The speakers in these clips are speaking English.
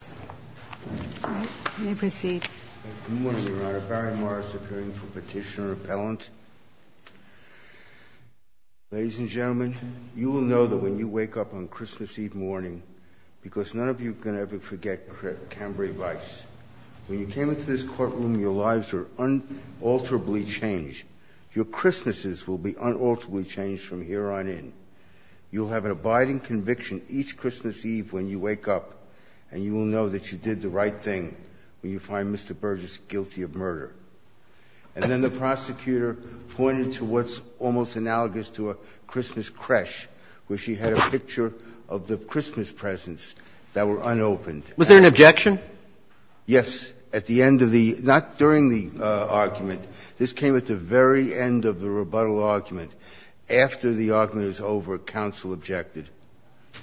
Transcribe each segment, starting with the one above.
Good morning, Your Honor. Barry Morris, appearing for Petitioner Appellant. Ladies and gentlemen, you will know that when you wake up on Christmas Eve morning, because none of you can ever forget Cambray Vice, when you came into this courtroom, your lives were unalterably changed. Your Christmases will be unalterably changed from here on in. You'll have an abiding conviction each Christmas Eve when you wake up, and you will know that you did the right thing when you find Mr. Burgess guilty of murder. And then the prosecutor pointed to what's almost analogous to a Christmas creche, where she had a picture of the Christmas presents that were unopened. Was there an objection? Yes, at the end of the ‑‑ not during the argument. This came at the very end of the rebuttal argument. After the argument was over, counsel objected.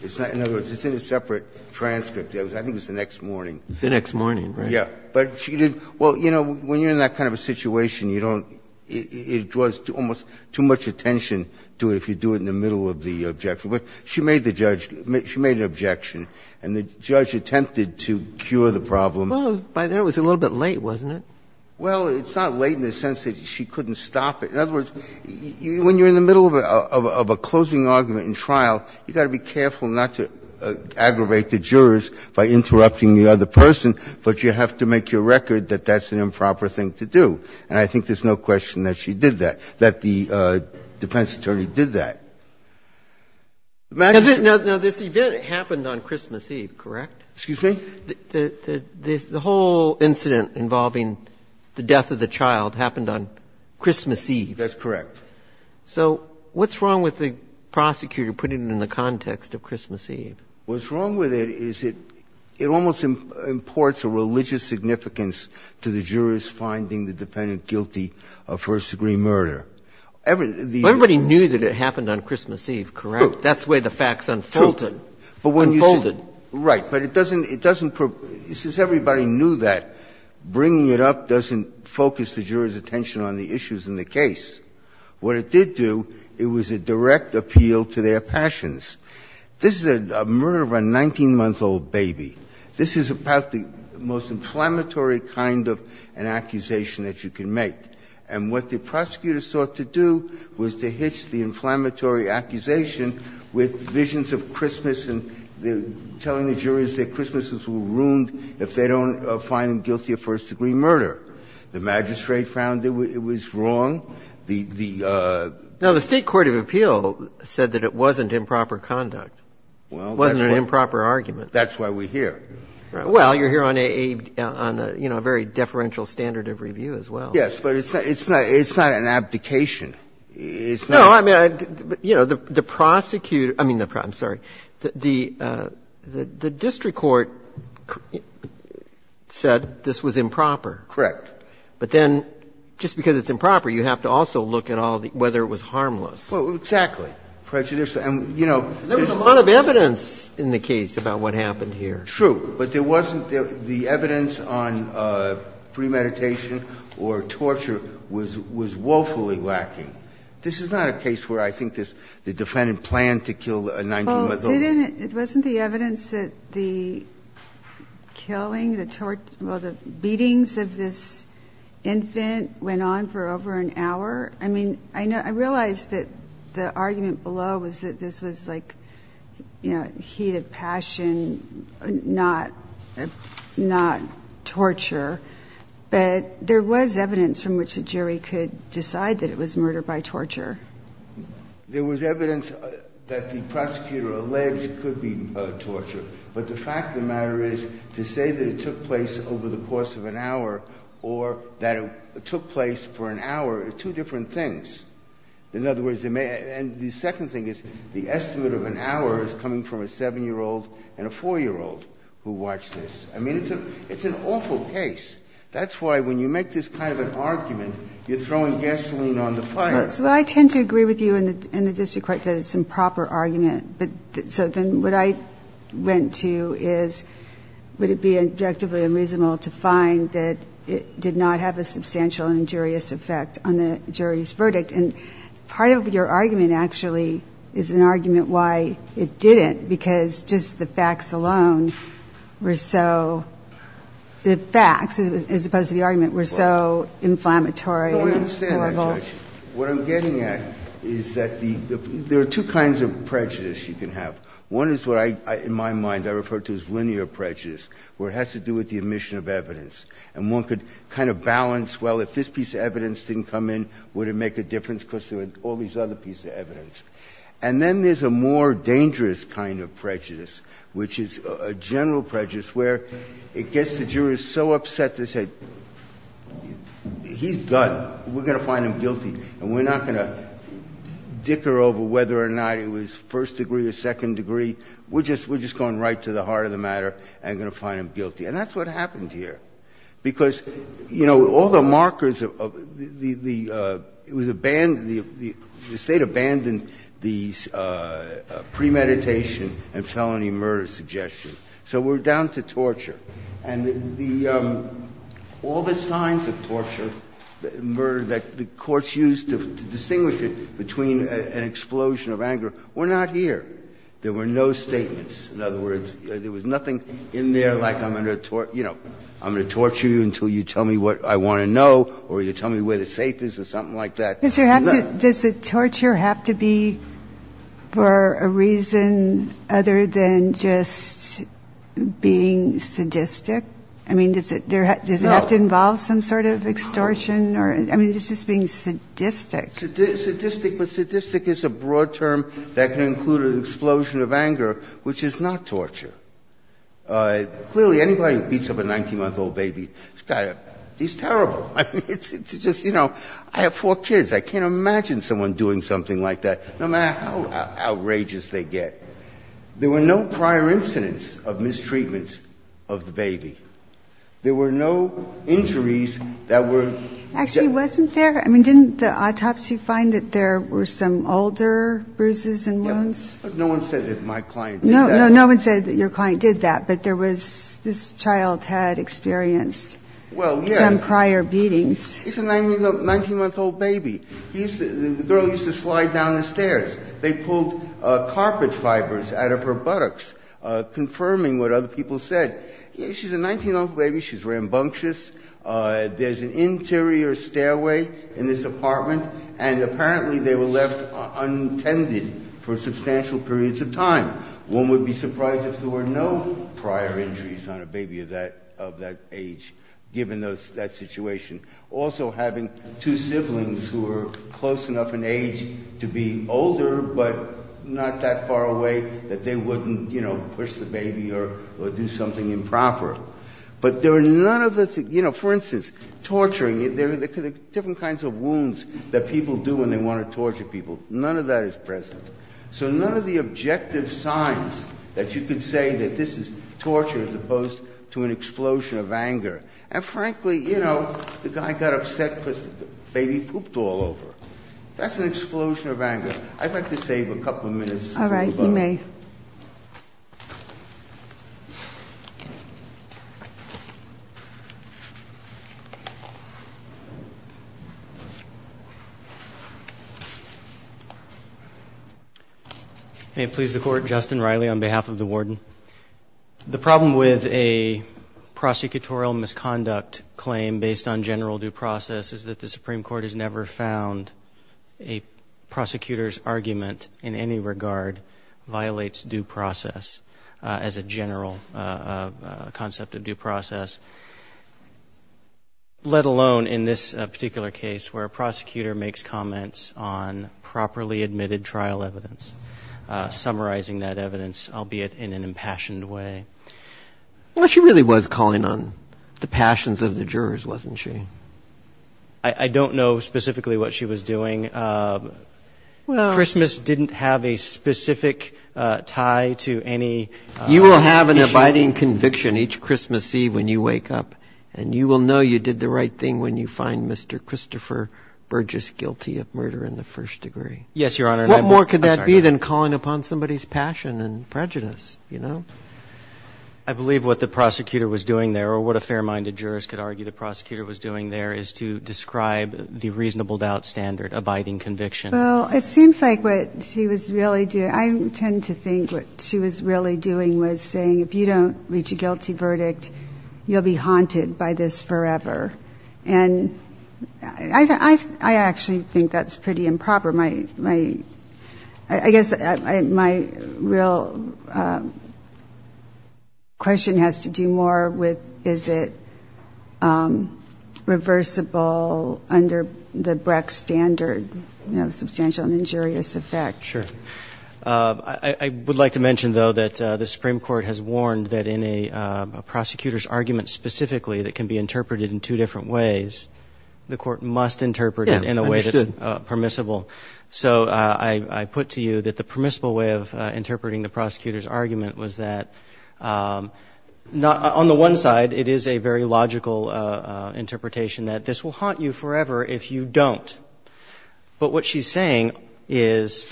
In other words, it's in a separate transcript. I think it was the next morning. The next morning, right. Yeah. But she didn't ‑‑ well, you know, when you're in that kind of a situation, you don't ‑‑ it draws almost too much attention to it if you do it in the middle of the objection. She made the judge ‑‑ she made an objection, and the judge attempted to cure the problem. Well, by then it was a little bit late, wasn't it? Well, it's not late in the sense that she couldn't stop it. In other words, when you're in the middle of a closing argument in trial, you've got to be careful not to aggravate the jurors by interrupting the other person, but you have to make your record that that's an improper thing to do. And I think there's no question that she did that, that the defense attorney did that. Now, this event happened on Christmas Eve, correct? Excuse me? The whole incident involving the death of the child happened on Christmas Eve. That's correct. So what's wrong with the prosecutor putting it in the context of Christmas Eve? What's wrong with it is it almost imports a religious significance to the jurors finding the defendant guilty of first-degree murder. Everybody knew that it happened on Christmas Eve, correct? That's the way the facts unfolded. Unfolded. Right. But it doesn't ‑‑ since everybody knew that, bringing it up doesn't focus the jurors' attention on the issues in the case. What it did do, it was a direct appeal to their passions. This is a murder of a 19-month-old baby. This is about the most inflammatory kind of an accusation that you can make. And what the prosecutor sought to do was to hitch the inflammatory accusation with visions of Christmas and telling the jurors that Christmases were ruined if they don't find them guilty of first-degree murder. The magistrate found it was wrong. The ‑‑ Now, the State court of appeal said that it wasn't improper conduct, wasn't an improper argument. That's why we're here. Well, you're here on a, you know, a very deferential standard of review as well. Yes, but it's not an abdication. It's not ‑‑ No, I mean, you know, the prosecutor ‑‑ I mean, the ‑‑ I'm sorry. The district court said this was improper. Correct. But then just because it's improper, you have to also look at all the ‑‑ whether it was harmless. Well, exactly. Prejudice and, you know ‑‑ There was a lot of evidence in the case about what happened here. True. But there wasn't ‑‑ the evidence on premeditation or torture was woefully lacking. This is not a case where I think the defendant planned to kill a 19‑month‑old. Well, it wasn't the evidence that the killing, the tort ‑‑ well, the beatings of this infant went on for over an hour. I mean, I realize that the argument below was that this was like, you know, heat of passion, not torture, but there was evidence from which a jury could decide that it was murder by torture. There was evidence that the prosecutor alleged it could be torture, but the fact of the matter is to say that it took place over the course of an hour or that it took place for an hour are two different things. In other words, and the second thing is the estimate of an hour is coming from a 7‑year‑old and a 4‑year‑old who watched this. I mean, it's an awful case. That's why when you make this kind of an argument, you're throwing gasoline on the fire. Well, I tend to agree with you in the district court that it's improper argument. So then what I went to is would it be objectively unreasonable to find that it did not have a substantial injurious effect on the jury's verdict? And part of your argument actually is an argument why it didn't, because just the facts alone were so ‑‑ the facts, as opposed to the argument, were so inflammatory and horrible. No, I understand that, Judge. What I'm getting at is that there are two kinds of prejudice you can have. One is what I, in my mind, I refer to as linear prejudice, where it has to do with the omission of evidence. And one could kind of balance, well, if this piece of evidence didn't come in, would it make a difference because there were all these other pieces of evidence? And then there's a more dangerous kind of prejudice, which is a general prejudice where it gets the jurors so upset, they say, he's done, we're going to find him guilty and we're not going to dicker over whether or not it was first degree or second degree, we're just going right to the heart of the matter and going to find him guilty. And that's what happened here. Because, you know, all the markers of the ‑‑ it was abandoned, the State abandoned the premeditation and felony murder suggestion. So we're down to torture. And the ‑‑ all the signs of torture, murder, that the courts used to distinguish it between an explosion of anger were not here. There were no statements. In other words, there was nothing in there like I'm going to, you know, I'm going to torture you until you tell me what I want to know or you tell me where the safe is or something like that. Ginsburg. Does the torture have to be for a reason other than just being sadistic? I mean, does it have to involve some sort of extortion or ‑‑ I mean, just being sadistic. Sadistic, but sadistic is a broad term that can include an explosion of anger, which is not torture. Clearly, anybody who beats up a 19‑month‑old baby, he's terrible. I mean, it's just, you know, I have four kids. I can't imagine someone doing something like that, no matter how outrageous they get. There were no prior incidents of mistreatment of the baby. There were no injuries that were ‑‑ Actually, wasn't there? I mean, didn't the autopsy find that there were some older bruises and wounds? No one said that my client did that. No one said that your client did that, but there was ‑‑ this child had experienced some prior beatings. Well, yes. It's a 19‑month‑old baby. The girl used to slide down the stairs. They pulled carpet fibers out of her buttocks, confirming what other people said. She's a 19‑month‑old baby. She's rambunctious. There's an interior stairway in this apartment, and apparently they were left untended for substantial periods of time. One would be surprised if there were no prior injuries on a baby of that age, given that situation. Also, having two siblings who are close enough in age to be older but not that far away that they wouldn't, you know, push the baby or do something improper. But there are none of the ‑‑ you know, for instance, torturing. There are different kinds of wounds that people do when they want to torture people. None of that is present. So none of the objective signs that you could say that this is torture as opposed to an explosion of anger. And frankly, you know, the guy got upset because the baby pooped all over. That's an explosion of anger. I'd like to save a couple of minutes. All right. You may. May it please the Court. Justin Riley on behalf of the warden. The problem with a prosecutorial misconduct claim based on general due process is that the Supreme Court has never found a prosecutor's argument in any regard violates due process as a general concept of due process, let alone in this particular case where a prosecutor makes comments on properly admitted trial evidence, summarizing that evidence, albeit in an impassioned way. Well, she really was calling on the passions of the jurors, wasn't she? I don't know specifically what she was doing. Well ‑‑ Christmas didn't have a specific tie to any ‑‑ You will have an abiding conviction each Christmas Eve when you wake up, and you will know you find Mr. Christopher Burgess guilty of murder in the first degree. Yes, Your Honor. What more could that be than calling upon somebody's passion and prejudice, you know? I believe what the prosecutor was doing there, or what a fair-minded jurist could argue the prosecutor was doing there, is to describe the reasonable doubt standard, abiding conviction. Well, it seems like what she was really doing ‑‑ I tend to think what she was really doing was saying if you don't reach a guilty verdict, you'll be haunted by this forever. And I actually think that's pretty improper. My ‑‑ I guess my real question has to do more with is it reversible under the Brex standard, you know, substantial and injurious effect. Sure. I would like to mention, though, that the Supreme Court has warned that in a prosecutor's ways, the court must interpret it in a way that's permissible. Yeah, I understood. So I put to you that the permissible way of interpreting the prosecutor's argument was that on the one side, it is a very logical interpretation that this will haunt you forever if you don't. But what she's saying is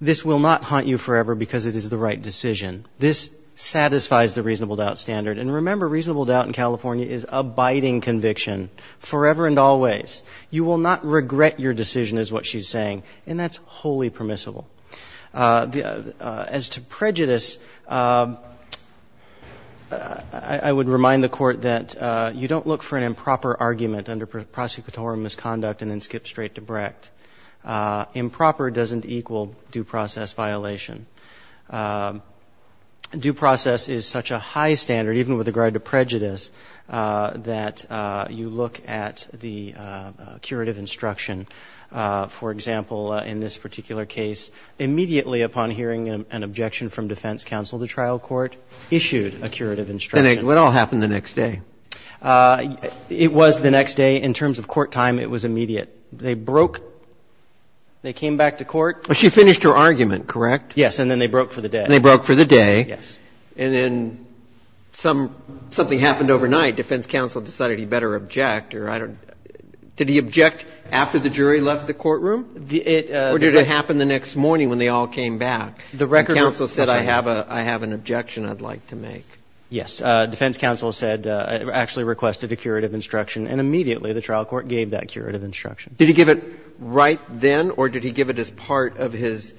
this will not haunt you forever because it is the right decision. This satisfies the reasonable doubt standard. And remember, reasonable doubt in California is abiding conviction forever and always. You will not regret your decision is what she's saying. And that's wholly permissible. As to prejudice, I would remind the Court that you don't look for an improper argument under prosecutorial misconduct and then skip straight to Brecht. Improper doesn't equal due process violation. Due process is such a high standard, even with regard to prejudice, that you look at the curative instruction. For example, in this particular case, immediately upon hearing an objection from defense counsel, the trial court issued a curative instruction. And it all happened the next day. It was the next day. In terms of court time, it was immediate. They broke the case. They came back to court. She finished her argument, correct? Yes, and then they broke for the day. And they broke for the day. Yes. And then something happened overnight. Defense counsel decided he better object, or I don't know. Did he object after the jury left the courtroom? Or did it happen the next morning when they all came back? The record was that I have an objection I'd like to make. Yes. Defense counsel said, actually requested a curative instruction, and immediately the trial court gave that curative instruction. Did he give it right then, or did he give it as part of his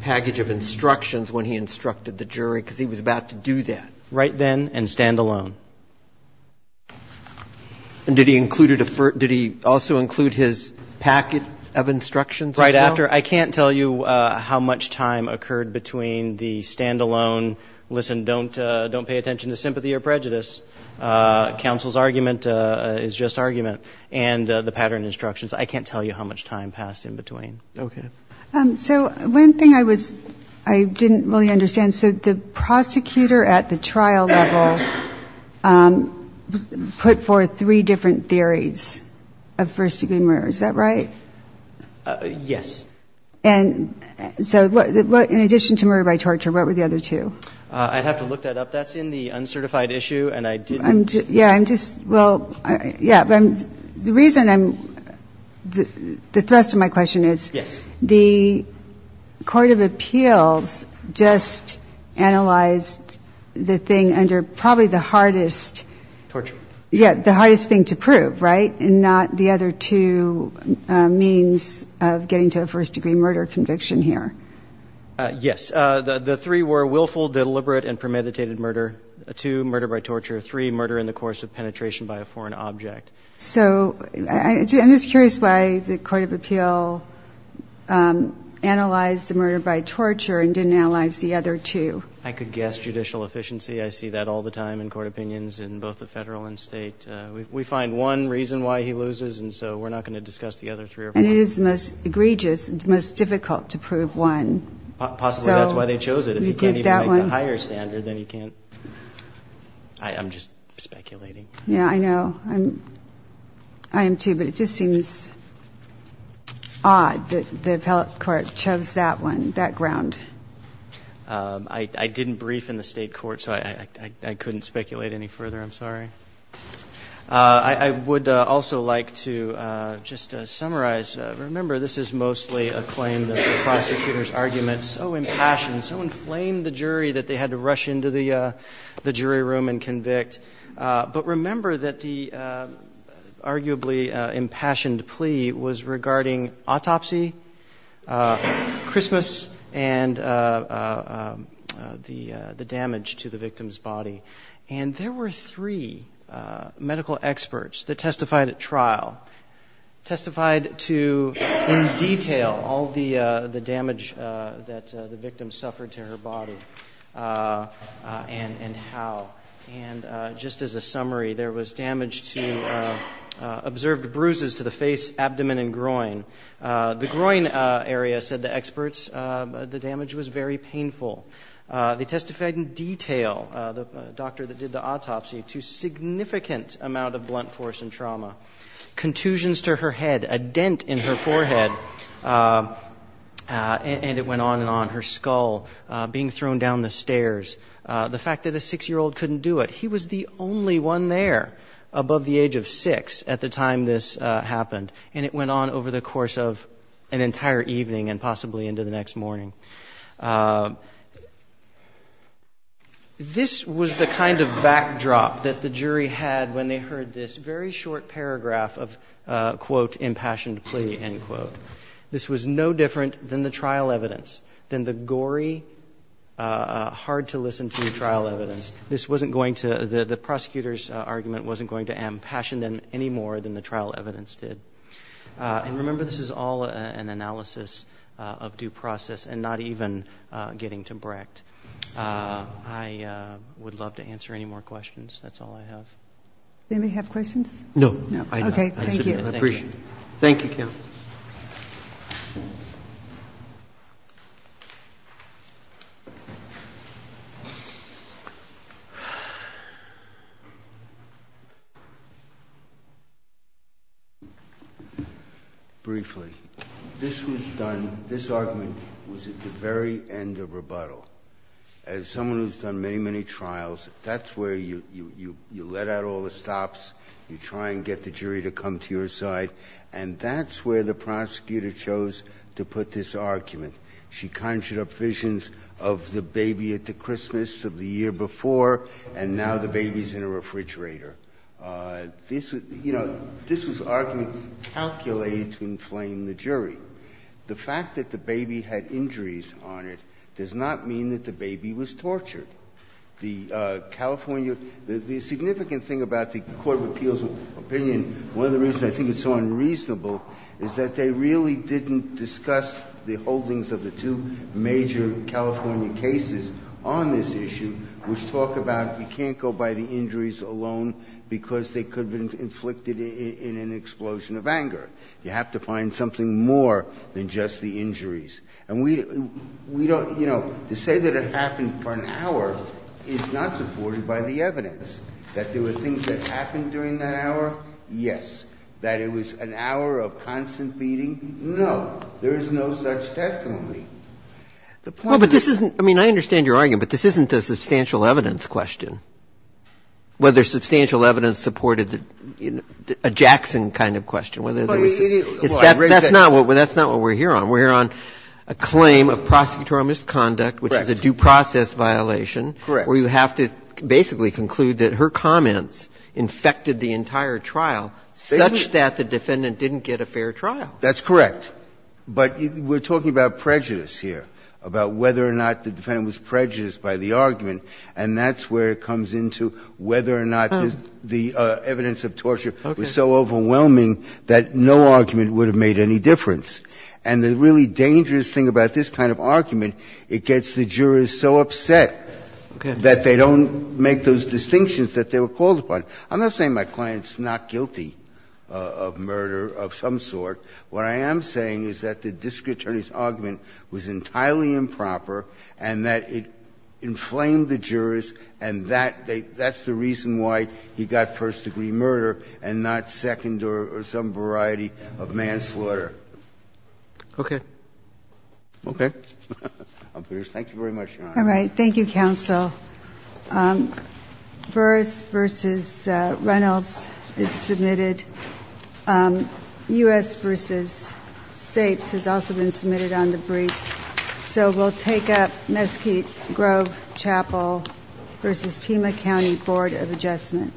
package of instructions when he instructed the jury? Because he was about to do that. Right then and standalone. And did he include it as part of his package of instructions as well? Right after. I can't tell you how much time occurred between the standalone, listen, don't pay attention to sympathy or prejudice. Counsel's argument is just argument. And the pattern instructions. I can't tell you how much time passed in between. Okay. So one thing I was, I didn't really understand. So the prosecutor at the trial level put forth three different theories of first degree murder. Is that right? Yes. And so in addition to murder by torture, what were the other two? I'd have to look that up. That's in the uncertified issue, and I didn't. Yeah, I'm just, well, yeah, the reason I'm, the thrust of my question is. Yes. The court of appeals just analyzed the thing under probably the hardest. Torture. Yeah, the hardest thing to prove, right? And not the other two means of getting to a first degree murder conviction here. Yes. The three were willful, deliberate, and premeditated murder. Two, murder by torture. Three, murder in the course of penetration by a foreign object. So I'm just curious why the court of appeal analyzed the murder by torture and didn't analyze the other two. I could guess judicial efficiency. I see that all the time in court opinions in both the Federal and State. We find one reason why he loses, and so we're not going to discuss the other three or four. And it is the most egregious, the most difficult to prove one. Possibly that's why they chose it. If you can't even make the higher standard, then you can't. I'm just speculating. Yeah, I know. I am, too. But it just seems odd that the appellate court shoves that one, that ground. I didn't brief in the State court, so I couldn't speculate any further. I'm sorry. I would also like to just summarize. Remember, this is mostly a claim that the prosecutor's argument so impassioned, so inflamed the jury that they had to rush into the jury room and convict. But remember that the arguably impassioned plea was regarding autopsy, Christmas, and the damage to the victim's body. And there were three medical experts that testified at trial, testified to, in summary, there was damage to, observed bruises to the face, abdomen, and groin. The groin area, said the experts, the damage was very painful. They testified in detail, the doctor that did the autopsy, to significant amount of blunt force and trauma. Contusions to her head, a dent in her forehead, and it went on and on. Her skull being thrown down the stairs. The fact that a 6-year-old couldn't do it. He was the only one there above the age of 6 at the time this happened, and it went on over the course of an entire evening and possibly into the next morning. This was the kind of backdrop that the jury had when they heard this very short paragraph of, quote, impassioned plea, end quote. This was no different than the trial evidence, than the gory, hard-to-listen-to trial evidence. This wasn't going to, the prosecutor's argument wasn't going to ampassion them any more than the trial evidence did. And remember, this is all an analysis of due process and not even getting to Brecht. I would love to answer any more questions. That's all I have. Ginsburg-Margolis. They may have questions? Roberts. Ginsburg-Margolis. Thank you. I appreciate it. Thank you, counsel. Briefly. This was done, this argument was at the very end of rebuttal. As someone who has done many, many trials, that's where you let out all the stops, you try and get the jury to come to your side. And that's where the prosecutor chose to put this argument. She conjured up visions of the baby at the Christmas of the year before, and now the baby's in a refrigerator. This was, you know, this was argument calculated to inflame the jury. The fact that the baby had injuries on it does not mean that the baby was tortured. The California, the significant thing about the Court of Appeals' opinion, one of the reasons I think it's so unreasonable, is that they really didn't discuss the holdings of the two major California cases on this issue, which talk about you can't go by the injuries alone because they could have been inflicted in an explosion of anger. You have to find something more than just the injuries. And we don't, you know, to say that it happened for an hour is not supported by the evidence. That there were things that happened during that hour? Yes. That it was an hour of constant beating? No. There is no such testimony. The point is that you can't go by the injuries alone because they could have been inflicted in an explosion of anger. And we don't, you know, to say that it happened for an hour is not supported by the evidence. The point is, you can't go by the injuries alone. And so, this is a claim of prosecutorial misconduct, which is a due process violation where you have to basically conclude that her comments infected the entire trial such that the defendant didn't get a fair trial. That's correct. But we're talking about prejudice here, about whether or not the defendant was prejudiced by the argument, and that's where it comes into whether or not the evidence of torture was so overwhelming that no argument would have made any difference. And the really dangerous thing about this kind of argument, it gets the jurors so upset that they don't make those distinctions that they were called upon. I'm not saying my client's not guilty of murder of some sort. What I am saying is that the district attorney's argument was entirely improper and that it inflamed the jurors, and that's the reason why he got first-degree murder and not second or some variety of manslaughter. Okay. Okay. Thank you very much, Your Honor. All right. Thank you, counsel. Burris v. Reynolds is submitted. U.S. v. Sapes has also been submitted on the briefs. So we'll take up Mesquite Grove Chapel v. Pima County Board of Adjustment.